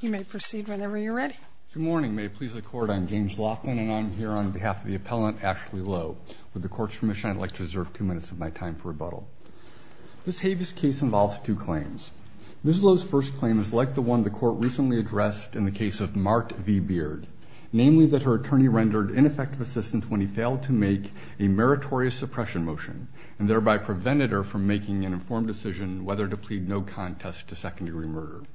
You may proceed whenever you're ready. Good morning may it please the court I'm James Laughlin and I'm here on behalf of the appellant Ashley Lowe. With the court's permission I'd like to reserve two minutes of my time for rebuttal. This habeas case involves two claims. Ms. Lowe's first claim is like the one the court recently addressed in the case of Mart V Beard, namely that her attorney rendered ineffective assistance when he failed to make a meritorious suppression motion and thereby prevented her from making an informed decision whether to The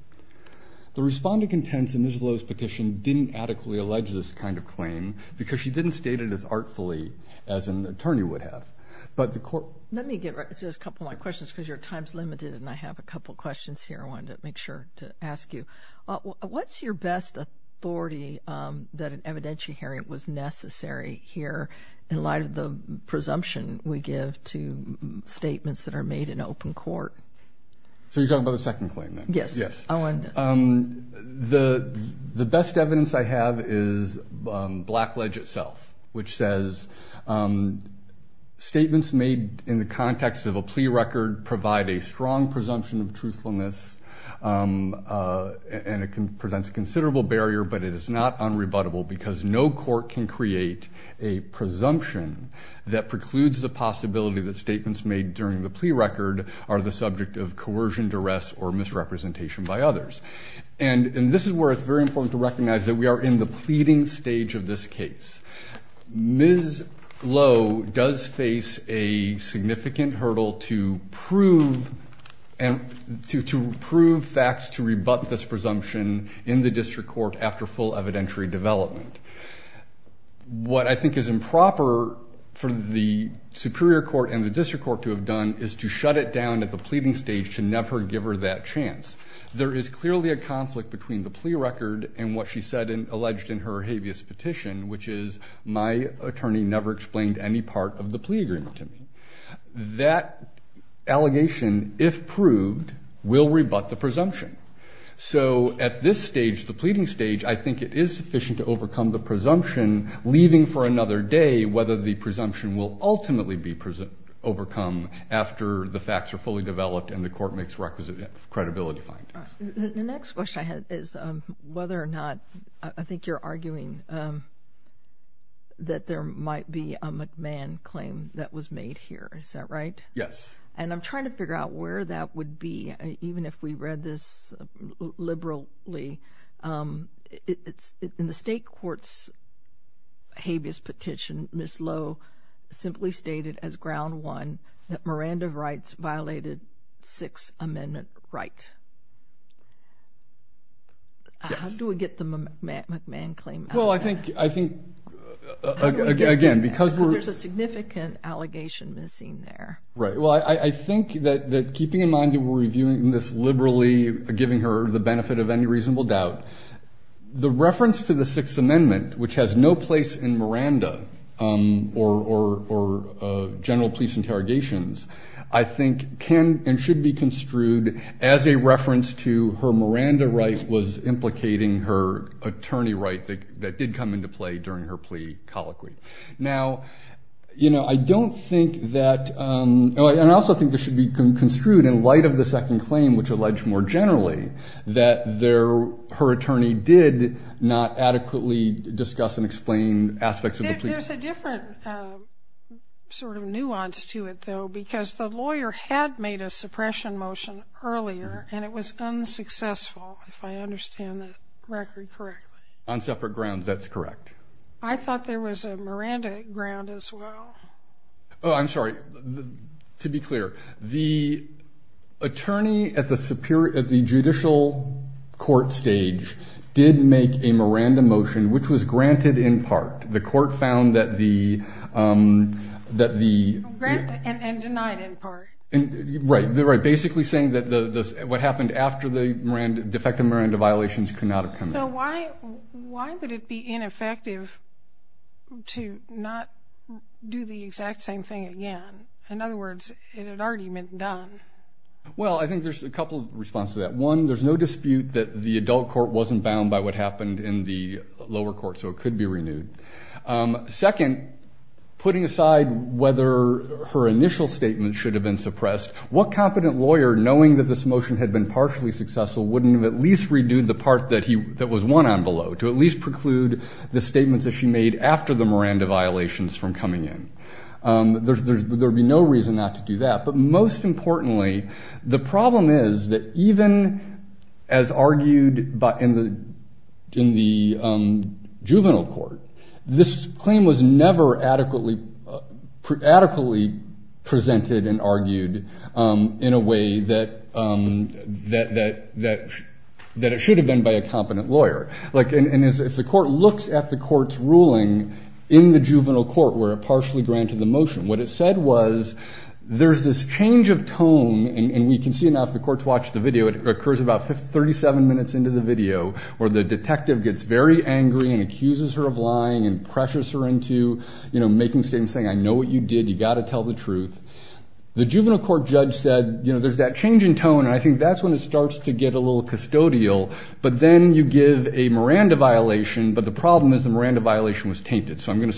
respondent contends that Ms. Lowe's petition didn't adequately allege this kind of claim because she didn't state it as artfully as an attorney would have. But the court... Let me get a couple more questions because your time's limited and I have a couple questions here I wanted to make sure to ask you. What's your best authority that an evidentiary hearing was necessary here in light of the presumption we give to statements that are made in open court? So you're the the best evidence I have is Blackledge itself which says statements made in the context of a plea record provide a strong presumption of truthfulness and it can present a considerable barrier but it is not unrebuttable because no court can create a presumption that precludes the possibility that statements made during the plea record are the subject of And this is where it's very important to recognize that we are in the pleading stage of this case. Ms. Lowe does face a significant hurdle to prove and to prove facts to rebut this presumption in the district court after full evidentiary development. What I think is improper for the Superior Court and the District Court to have done is to shut it down at the pleading stage to never give her that chance. There is clearly a conflict between the plea record and what she said and alleged in her habeas petition which is my attorney never explained any part of the plea agreement to me. That allegation if proved will rebut the presumption. So at this stage the pleading stage I think it is sufficient to overcome the presumption leaving for another day whether the presumption will ultimately be present overcome after the facts are fully developed and the court makes requisite credibility findings. The next question I had is whether or not I think you're arguing that there might be a McMahon claim that was made here is that right? Yes. And I'm trying to figure out where that would be even if we read this liberally. It's in the state courts habeas petition Ms. Lowe simply stated as ground one that Miranda rights violated Sixth Amendment right. How do we get the McMahon claim? Well I think I think again because there's a significant allegation missing there. Right well I think that that keeping in mind you were reviewing this liberally giving her the benefit of any reasonable doubt the reference to the Sixth Amendment which has no place in Miranda or general police interrogations I think can and should be construed as a reference to her Miranda rights was implicating her attorney right that did come into play during her plea colloquy. Now you know I don't think that and I also think this should be construed in light of the second claim which alleged more generally that there her attorney did not adequately discuss and explain aspects of the plea. There's a different sort of nuance to it though because the lawyer had made a suppression motion earlier and it was unsuccessful if I understand that record correctly. On separate grounds that's correct. I thought there was a Miranda ground as well. Oh I'm sorry to be clear the attorney at the superior of the judicial court stage did make a Miranda motion which was granted in part. The court found that the that the grant and denied in part and right there are basically saying that the what happened after the Miranda defective Miranda violations could not have come in. So why why would it be ineffective to not do the exact same thing again? In other words it had already been done. Well I think there's a couple of responses that one there's no dispute that the adult court wasn't bound by what happened in the lower court so it could be renewed. Second putting aside whether her initial statement should have been suppressed what competent lawyer knowing that this motion had been partially successful wouldn't have at least redo the part that he that was one on below to at least preclude the statements that she made after the Miranda violations from coming in. There's there'd be no reason not to do that but most importantly the problem is that even as argued by in the in the juvenile court this claim was never adequately adequately presented and argued in a way that that that that that it should have been by a competent lawyer like and if the court looks at the court's ruling in the juvenile court where it partially granted the motion what it said was there's this change of tone and we can see enough the courts watch the video it occurs about 37 minutes into the video where the detective gets very angry and accuses her of lying and pressures her into you know making same saying I know what you did you got to tell the truth. The juvenile court judge said you know there's that change in tone and I think that's when it starts to get a little custodial but then you give a Miranda violation but the problem is the Miranda violation was tainted so I'm going to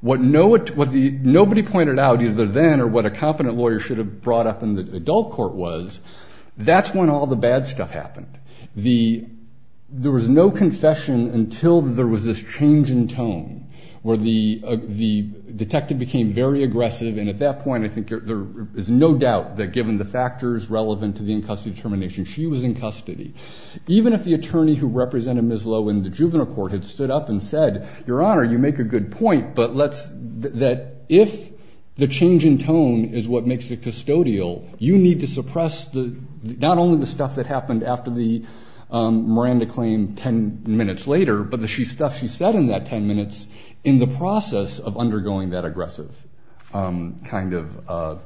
what no it was the nobody pointed out either then or what a competent lawyer should have brought up in the adult court was that's when all the bad stuff happened. The there was no confession until there was this change in tone where the the detective became very aggressive and at that point I think there is no doubt that given the factors relevant to the in custody termination she was in custody. Even if the attorney who represented Ms. Lowe in the juvenile court had stood up and said your honor you make a good point but let's that if the change in tone is what makes it custodial you need to suppress the not only the stuff that happened after the Miranda claim 10 minutes later but the she stuff she said in that 10 minutes in the process of undergoing that aggressive kind of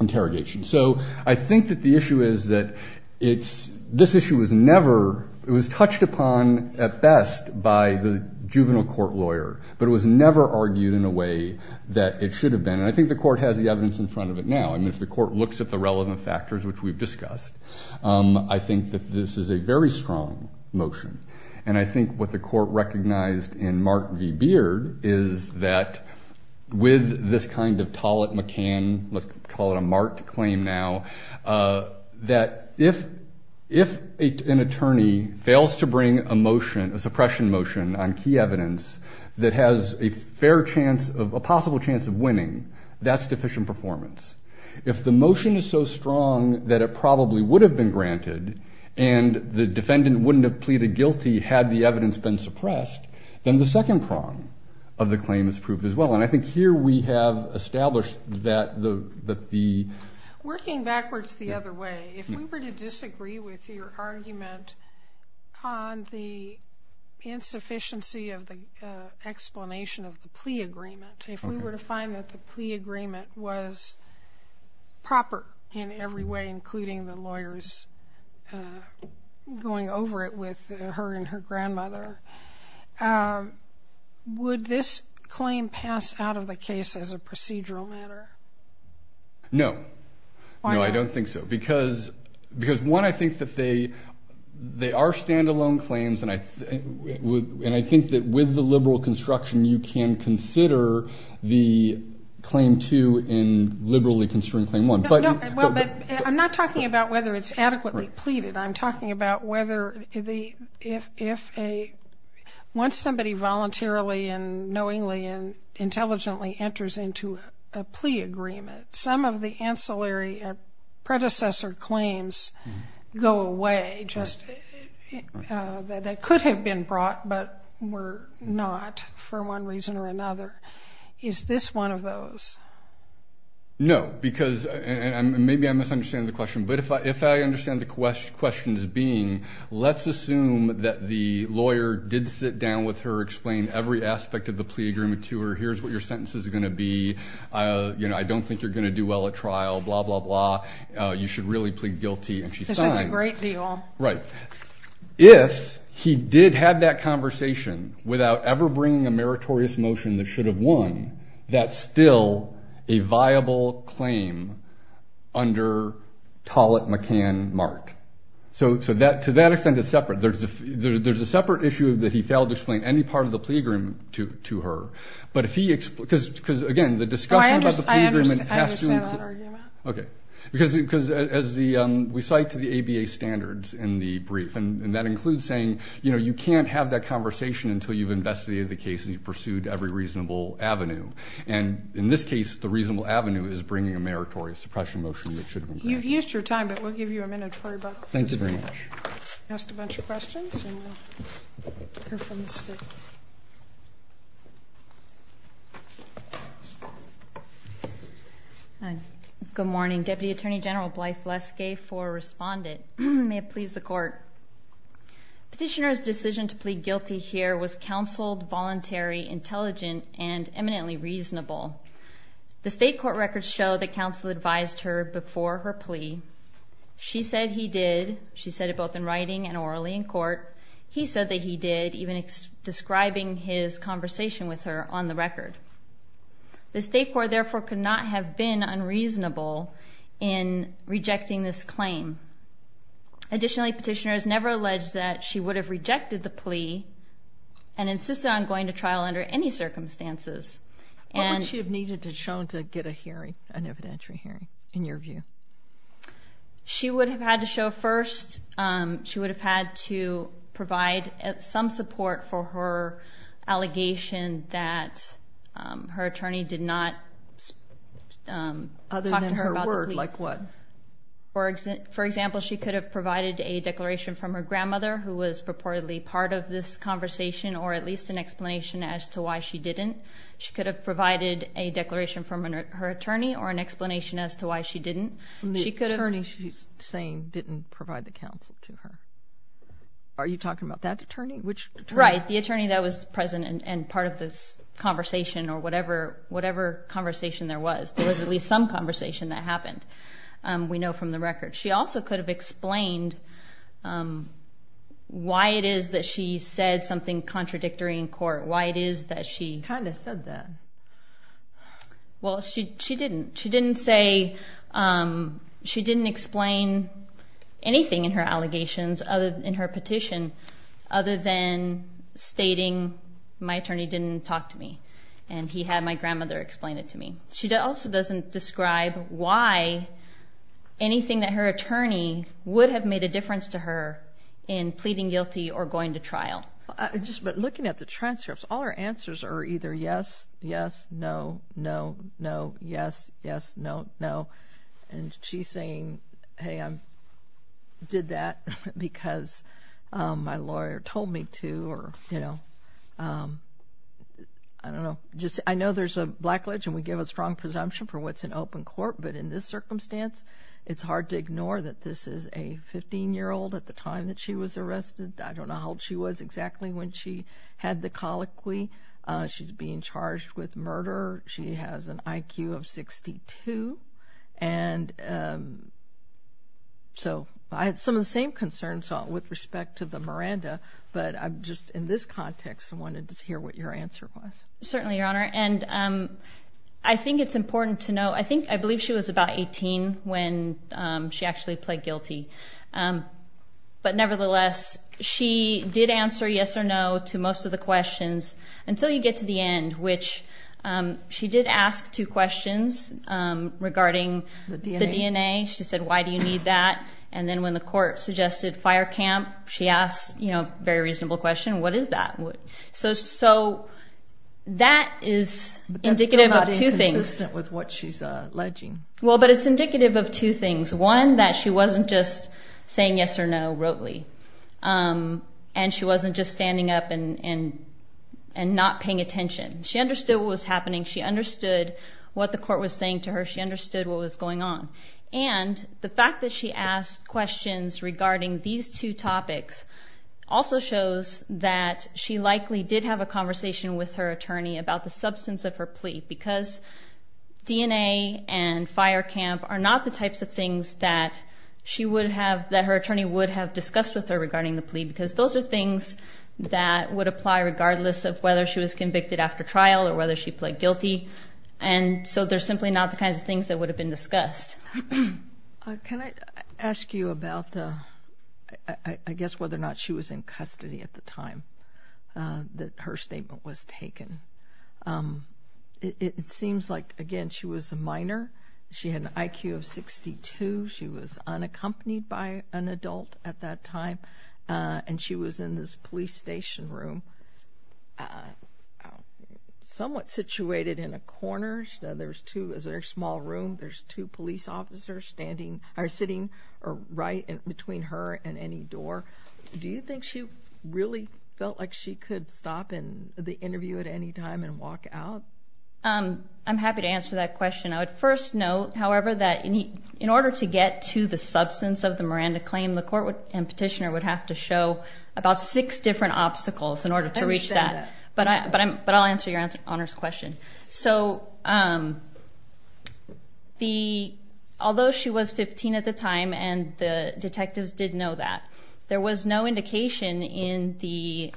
interrogation. So I think that the issue is that it's this issue was never it was touched upon at best by the juvenile court lawyer but it was never argued in a way that it should have been and I think the court has the evidence in front of it now I mean if the court looks at the relevant factors which we've discussed I think that this is a very strong motion and I think what the court recognized in Mark V Beard is that with this kind of Tollett-McCann let's call it a marked claim now that if if an attorney fails to bring a motion a suppression motion on key evidence that has a fair chance of a possible chance of winning that's deficient performance. If the motion is so strong that it probably would have been granted and the defendant wouldn't have pleaded guilty had the evidence been suppressed then the second prong of the claim is proved as well and I think here we have established that the the working backwards the other way if you were to disagree with your argument on the insufficiency of the explanation of the plea agreement if we were to find that the plea agreement was proper in every way including the lawyers going over it with her and her grandmother would this claim pass out of the case as a procedural matter? No I don't think so because because one I think that they they are standalone claims and I would and I think that with the liberal construction you can consider the claim to in liberally construing claim one but I'm not talking about whether it's adequately pleaded I'm talking about whether the if if a once somebody voluntarily and knowingly and intelligently enters into a plea agreement some of the ancillary predecessor claims go away just that could have been brought but were not for one reason or another is this one of those? No because and maybe I misunderstand the question but if I if I understand the question questions being let's assume that the lawyer did sit down with her explain every aspect of the plea agreement to her here's what your sentence is going to be you know I don't think you're going to do well at trial blah blah blah you should really plead guilty and she's fine right if he did have that conversation without ever bringing a meritorious motion that should have won that's still a viable claim under Tollett McCann Mart so so that to that extent is separate there's a there's a separate issue of that he failed to explain any part of the plea agreement to to her but if he explained because because again the discussion okay because because as the we cite to the ABA standards in the brief and that includes saying you know you can't have that conversation until you've investigated the case and you pursued every reasonable Avenue and in this case the reasonable Avenue is bringing a meritorious suppression motion that should you've used your time but we'll give you a minute for about thanks very much good morning Deputy Attorney General Blythe Leskay for respondent may it please the court petitioner's decision to plead guilty here was counseled very intelligent and eminently reasonable the state court records show that counsel advised her before her plea she said he did she said it both in writing and orally in court he said that he did even describing his conversation with her on the record the state court therefore could not have been unreasonable in rejecting this claim additionally petitioners never alleged that she would have rejected the plea and insisted on going to trial under any circumstances and she had needed to show to get a hearing an evidentiary hearing in your view she would have had to show first she would have had to provide some support for her allegation that her attorney did not other than her word like what for exit for example she could have provided a declaration from her grandmother who was purportedly part of this conversation or at least an explanation as to why she didn't she could have provided a declaration from her attorney or an explanation as to why she didn't she could have turning she's saying didn't provide the council to her are you talking about that attorney which right the attorney that was present and part of this conversation or whatever whatever conversation there was there was at least some conversation that happened we know from the record she also could have explained why it is that she said something contradictory in court why it is that she kind of said that well she didn't she didn't say she didn't explain anything in her allegations other in her petition other than stating my attorney didn't talk to and he had my grandmother explain it to me she also doesn't describe why anything that her attorney would have made a difference to her in pleading guilty or going to trial just but looking at the transcripts our answers are either yes yes no no no yes yes no no and she's saying hey I'm did that because my I know there's a blackledge and we give a strong presumption for what's in open court but in this circumstance it's hard to ignore that this is a 15 year old at the time that she was arrested I don't know how old she was exactly when she had the colloquy she's being charged with murder she has an IQ of 62 and so I had some of the same concerns with respect to the Miranda but I'm just in this context and wanted to hear what your answer was certainly your honor and I think it's important to know I think I believe she was about 18 when she actually pled guilty but nevertheless she did answer yes or no to most of the questions until you get to the end which she did ask two questions regarding the DNA she said why do you need that and then when the court suggested fire camp she asked you know very reasonable question what is that what so so that is indicative of two things with what she's alleging well but it's indicative of two things one that she wasn't just saying yes or no wrote Lee and she wasn't just standing up and and not paying attention she understood what was happening she understood what the court was saying to her she understood what was going on and the fact that she asked questions regarding these two topics also shows that she likely did have a conversation with her attorney about the substance of her plea because DNA and fire camp are not the types of things that she would have that her attorney would have discussed with her regarding the plea because those are things that would apply regardless of whether she was convicted after trial or whether she pled guilty and so they're simply not the things that would have been discussed can I ask you about I guess whether or not she was in custody at the time that her statement was taken it seems like again she was a minor she had an IQ of 62 she was unaccompanied by an adult at that time and she was in this police station room somewhat situated in a corner there's two is there a small room there's two police officers standing are sitting or right and between her and any door do you think she really felt like she could stop in the interview at any time and walk out um I'm happy to answer that question I would first note however that in order to get to the substance of the Miranda claim the court would and petitioner would have to show about six different obstacles in order to reach that but I but I'll answer your answer honors question so the although she was 15 at the time and the detectives didn't know that there was no indication in the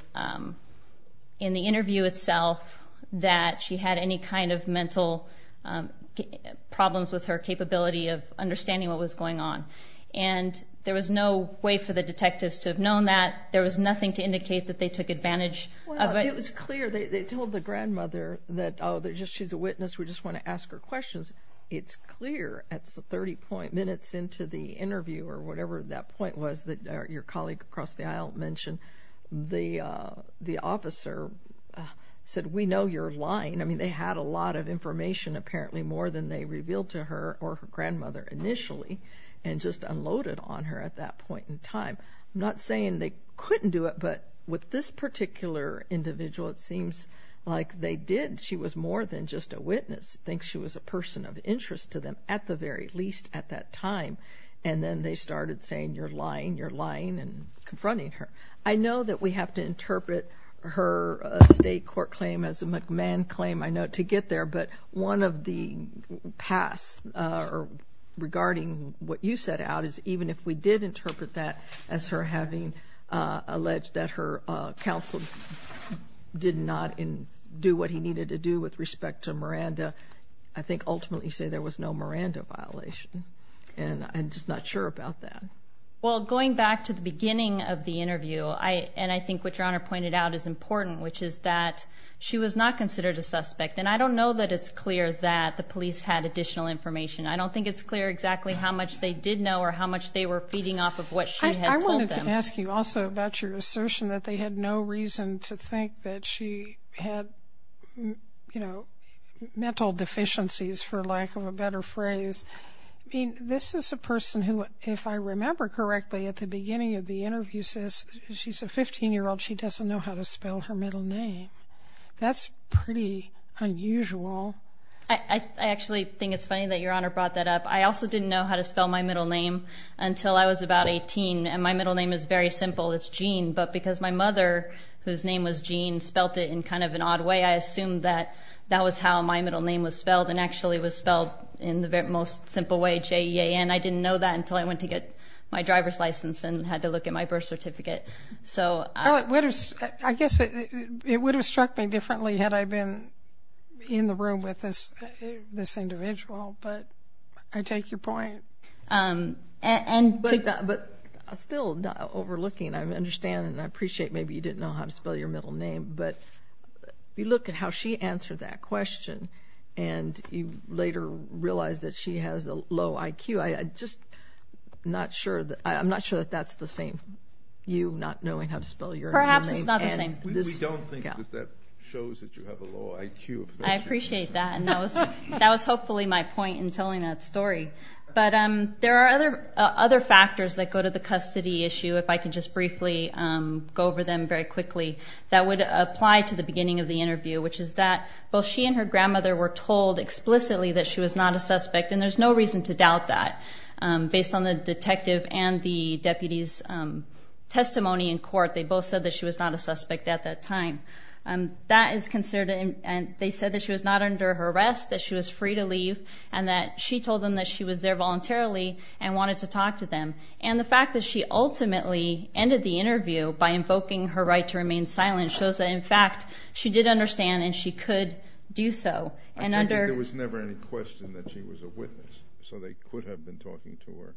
in the interview itself that she had any kind of mental problems with her capability of understanding what was going on and there was no way for the detectives to have known that there was nothing to indicate that they took advantage it was clear they told the grandmother that oh they're just she's a witness we just want to ask her questions it's clear at 30 point minutes into the interview or whatever that point was that your colleague across the aisle mentioned the the officer said we know you're lying I mean they had a lot of information apparently more than they revealed to her or her grandmother initially and just unloaded on her at that point in time I'm not saying they couldn't do it but with this particular individual it seems like they did she was more than just a witness thinks she was a person of interest to them at the very least at that time and then they started saying you're lying you're lying and confronting her I know that we have to interpret her state court claim as a McMahon claim I know to get there but one of the paths or regarding what you did interpret that as her having alleged that her counsel did not in do what he needed to do with respect to Miranda I think ultimately say there was no Miranda violation and I'm just not sure about that well going back to the beginning of the interview I and I think what your honor pointed out is important which is that she was not considered a suspect and I don't know that it's clear that the police had additional information I don't think it's clear exactly how much they did know or how much they were feeding off of what I wanted to ask you also about your assertion that they had no reason to think that she had you know mental deficiencies for lack of a better phrase I mean this is a person who if I remember correctly at the beginning of the interview says she's a 15 year old she doesn't know how to spell her middle name that's pretty unusual I actually think it's funny that your honor brought that up I also didn't know how to spell my middle name until I was about 18 and my middle name is very simple it's Jean but because my mother whose name was Jean spelt it in kind of an odd way I assumed that that was how my middle name was spelled and actually was spelled in the very most simple way j-e-a-n I didn't know that until I went to get my driver's license and had to look at my birth certificate so what is I guess it would have struck me differently had I been in the room with this this individual but I take your point and but still not overlooking I understand and I appreciate maybe you didn't know how to spell your middle name but you look at how she answered that question and you later realized that she has a low IQ I just not sure that I'm not sure that that's the same you not knowing how to spell your perhaps it's not the same I appreciate that and that was that was hopefully my point in telling that story but um there are other other factors that go to the custody issue if I can just briefly go over them very quickly that would apply to the beginning of the interview which is that both she and her grandmother were told explicitly that she was not a suspect and there's no reason to doubt that based on the detective and the deputies testimony in court they both said that she was not a suspect at that time and that is considered and they said that she was not under her arrest that she was free to leave and that she told them that she was there voluntarily and wanted to talk to them and the fact that she ultimately ended the interview by invoking her right to remain silent shows that in fact she did understand and she could do so and under there was never any question that she was a witness so they could have been talking to her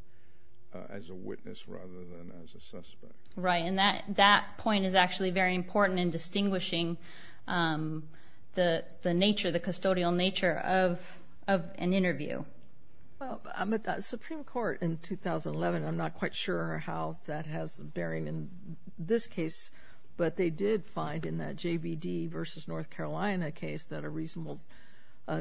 as a witness rather than as a suspect right and that that point is actually very important in distinguishing the the nature the custodial nature of of an interview I'm at the Supreme Court in 2011 I'm not quite sure how that has bearing in this case but they did find in that JVD versus North Carolina case that a reasonable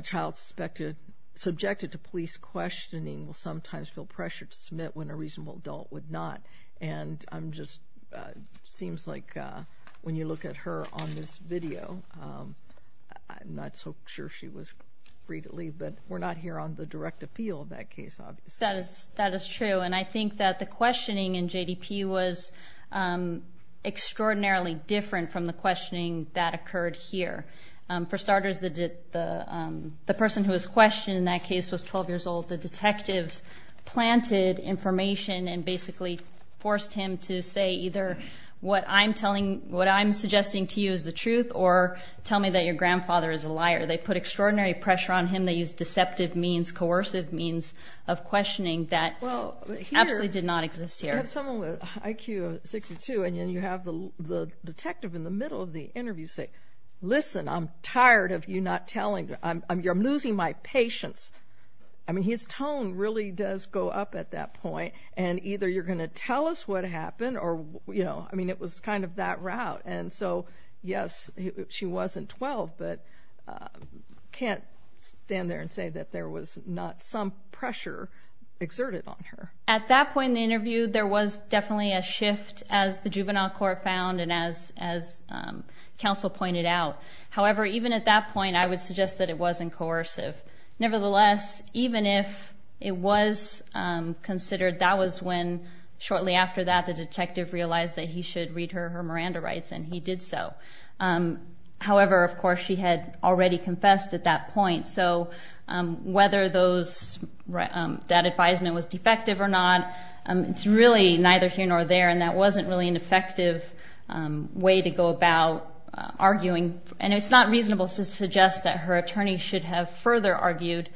child suspected subjected to questioning will sometimes feel pressure to submit when a reasonable adult would not and I'm just seems like when you look at her on this video I'm not so sure she was free to leave but we're not here on the direct appeal in that case obvious that is that is true and I think that the questioning in JDP was extraordinarily different from the questioning that occurred here for who is questioned in that case was 12 years old the detectives planted information and basically forced him to say either what I'm telling what I'm suggesting to you is the truth or tell me that your grandfather is a liar they put extraordinary pressure on him they use deceptive means coercive means of questioning that well absolutely did not exist here IQ 62 and then you have the detective in the middle of the interview say listen I'm tired of you not telling I'm losing my patience I mean his tone really does go up at that point and either you're gonna tell us what happened or you know I mean it was kind of that route and so yes she wasn't 12 but can't stand there and say that there was not some pressure exerted on her at that point in the interview there was definitely a shift as the juvenile court found and as as counsel pointed out however even at that point I would suggest that it wasn't coercive nevertheless even if it was considered that was when shortly after that the detective realized that he should read her her Miranda rights and he did so however of course she had already confessed at that point so whether those that advisement was defective or not it's really neither here nor there and that wasn't really an effective way to go about arguing and it's not reasonable to suggest that her attorney should have further argued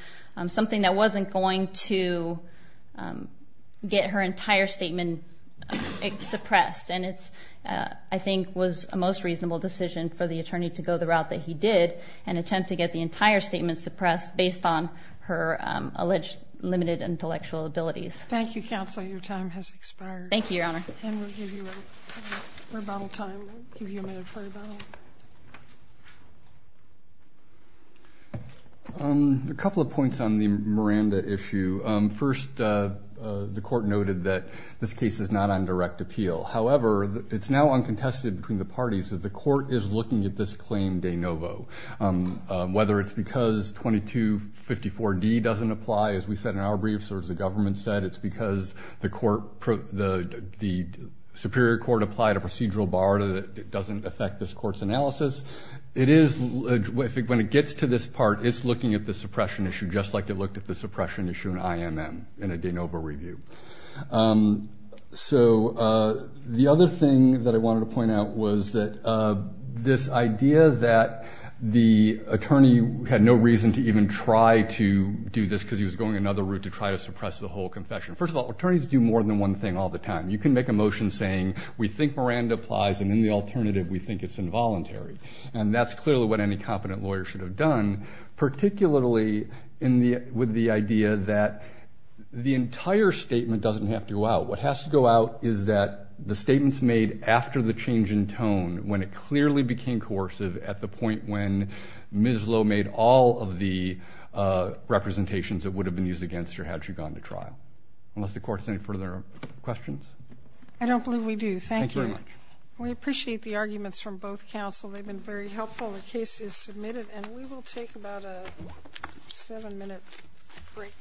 something that wasn't going to get her entire statement suppressed and it's I think was a most reasonable decision for the attorney to go the route that he did and attempt to get the entire statement suppressed based on her alleged limited intellectual abilities thank you counsel your time has expired thank you your honor a couple of points on the Miranda issue first the court noted that this case is not on direct appeal however it's now uncontested between the parties that the court is looking at this claim de novo whether it's because 2254 D doesn't apply as we said in our briefs or as the government said it's because the court the the Superior Court applied a procedural bar that doesn't affect this courts analysis it is when it gets to this part it's looking at the suppression issue just like it looked at the suppression issue in IMM in a de novo review so the other thing that I wanted to point out was that this idea that the attorney had no reason to even try to do this because he was going another route to try to suppress the whole confession first of all attorneys do more than one thing all the time you can make a motion saying we think Miranda applies and in the alternative we think it's involuntary and that's clearly what any competent lawyer should have done particularly in the with the idea that the entire statement doesn't have to go out what has to go out is that the statements made after the change in tone when it clearly became coercive at the point when Ms. Lowe made all of the representations that would have been used against her had she gone to trial unless the court's any further questions I don't believe we do thank you very much we appreciate the arguments from both counsel they've been very helpful the case is submitted and we will take about a seven minute break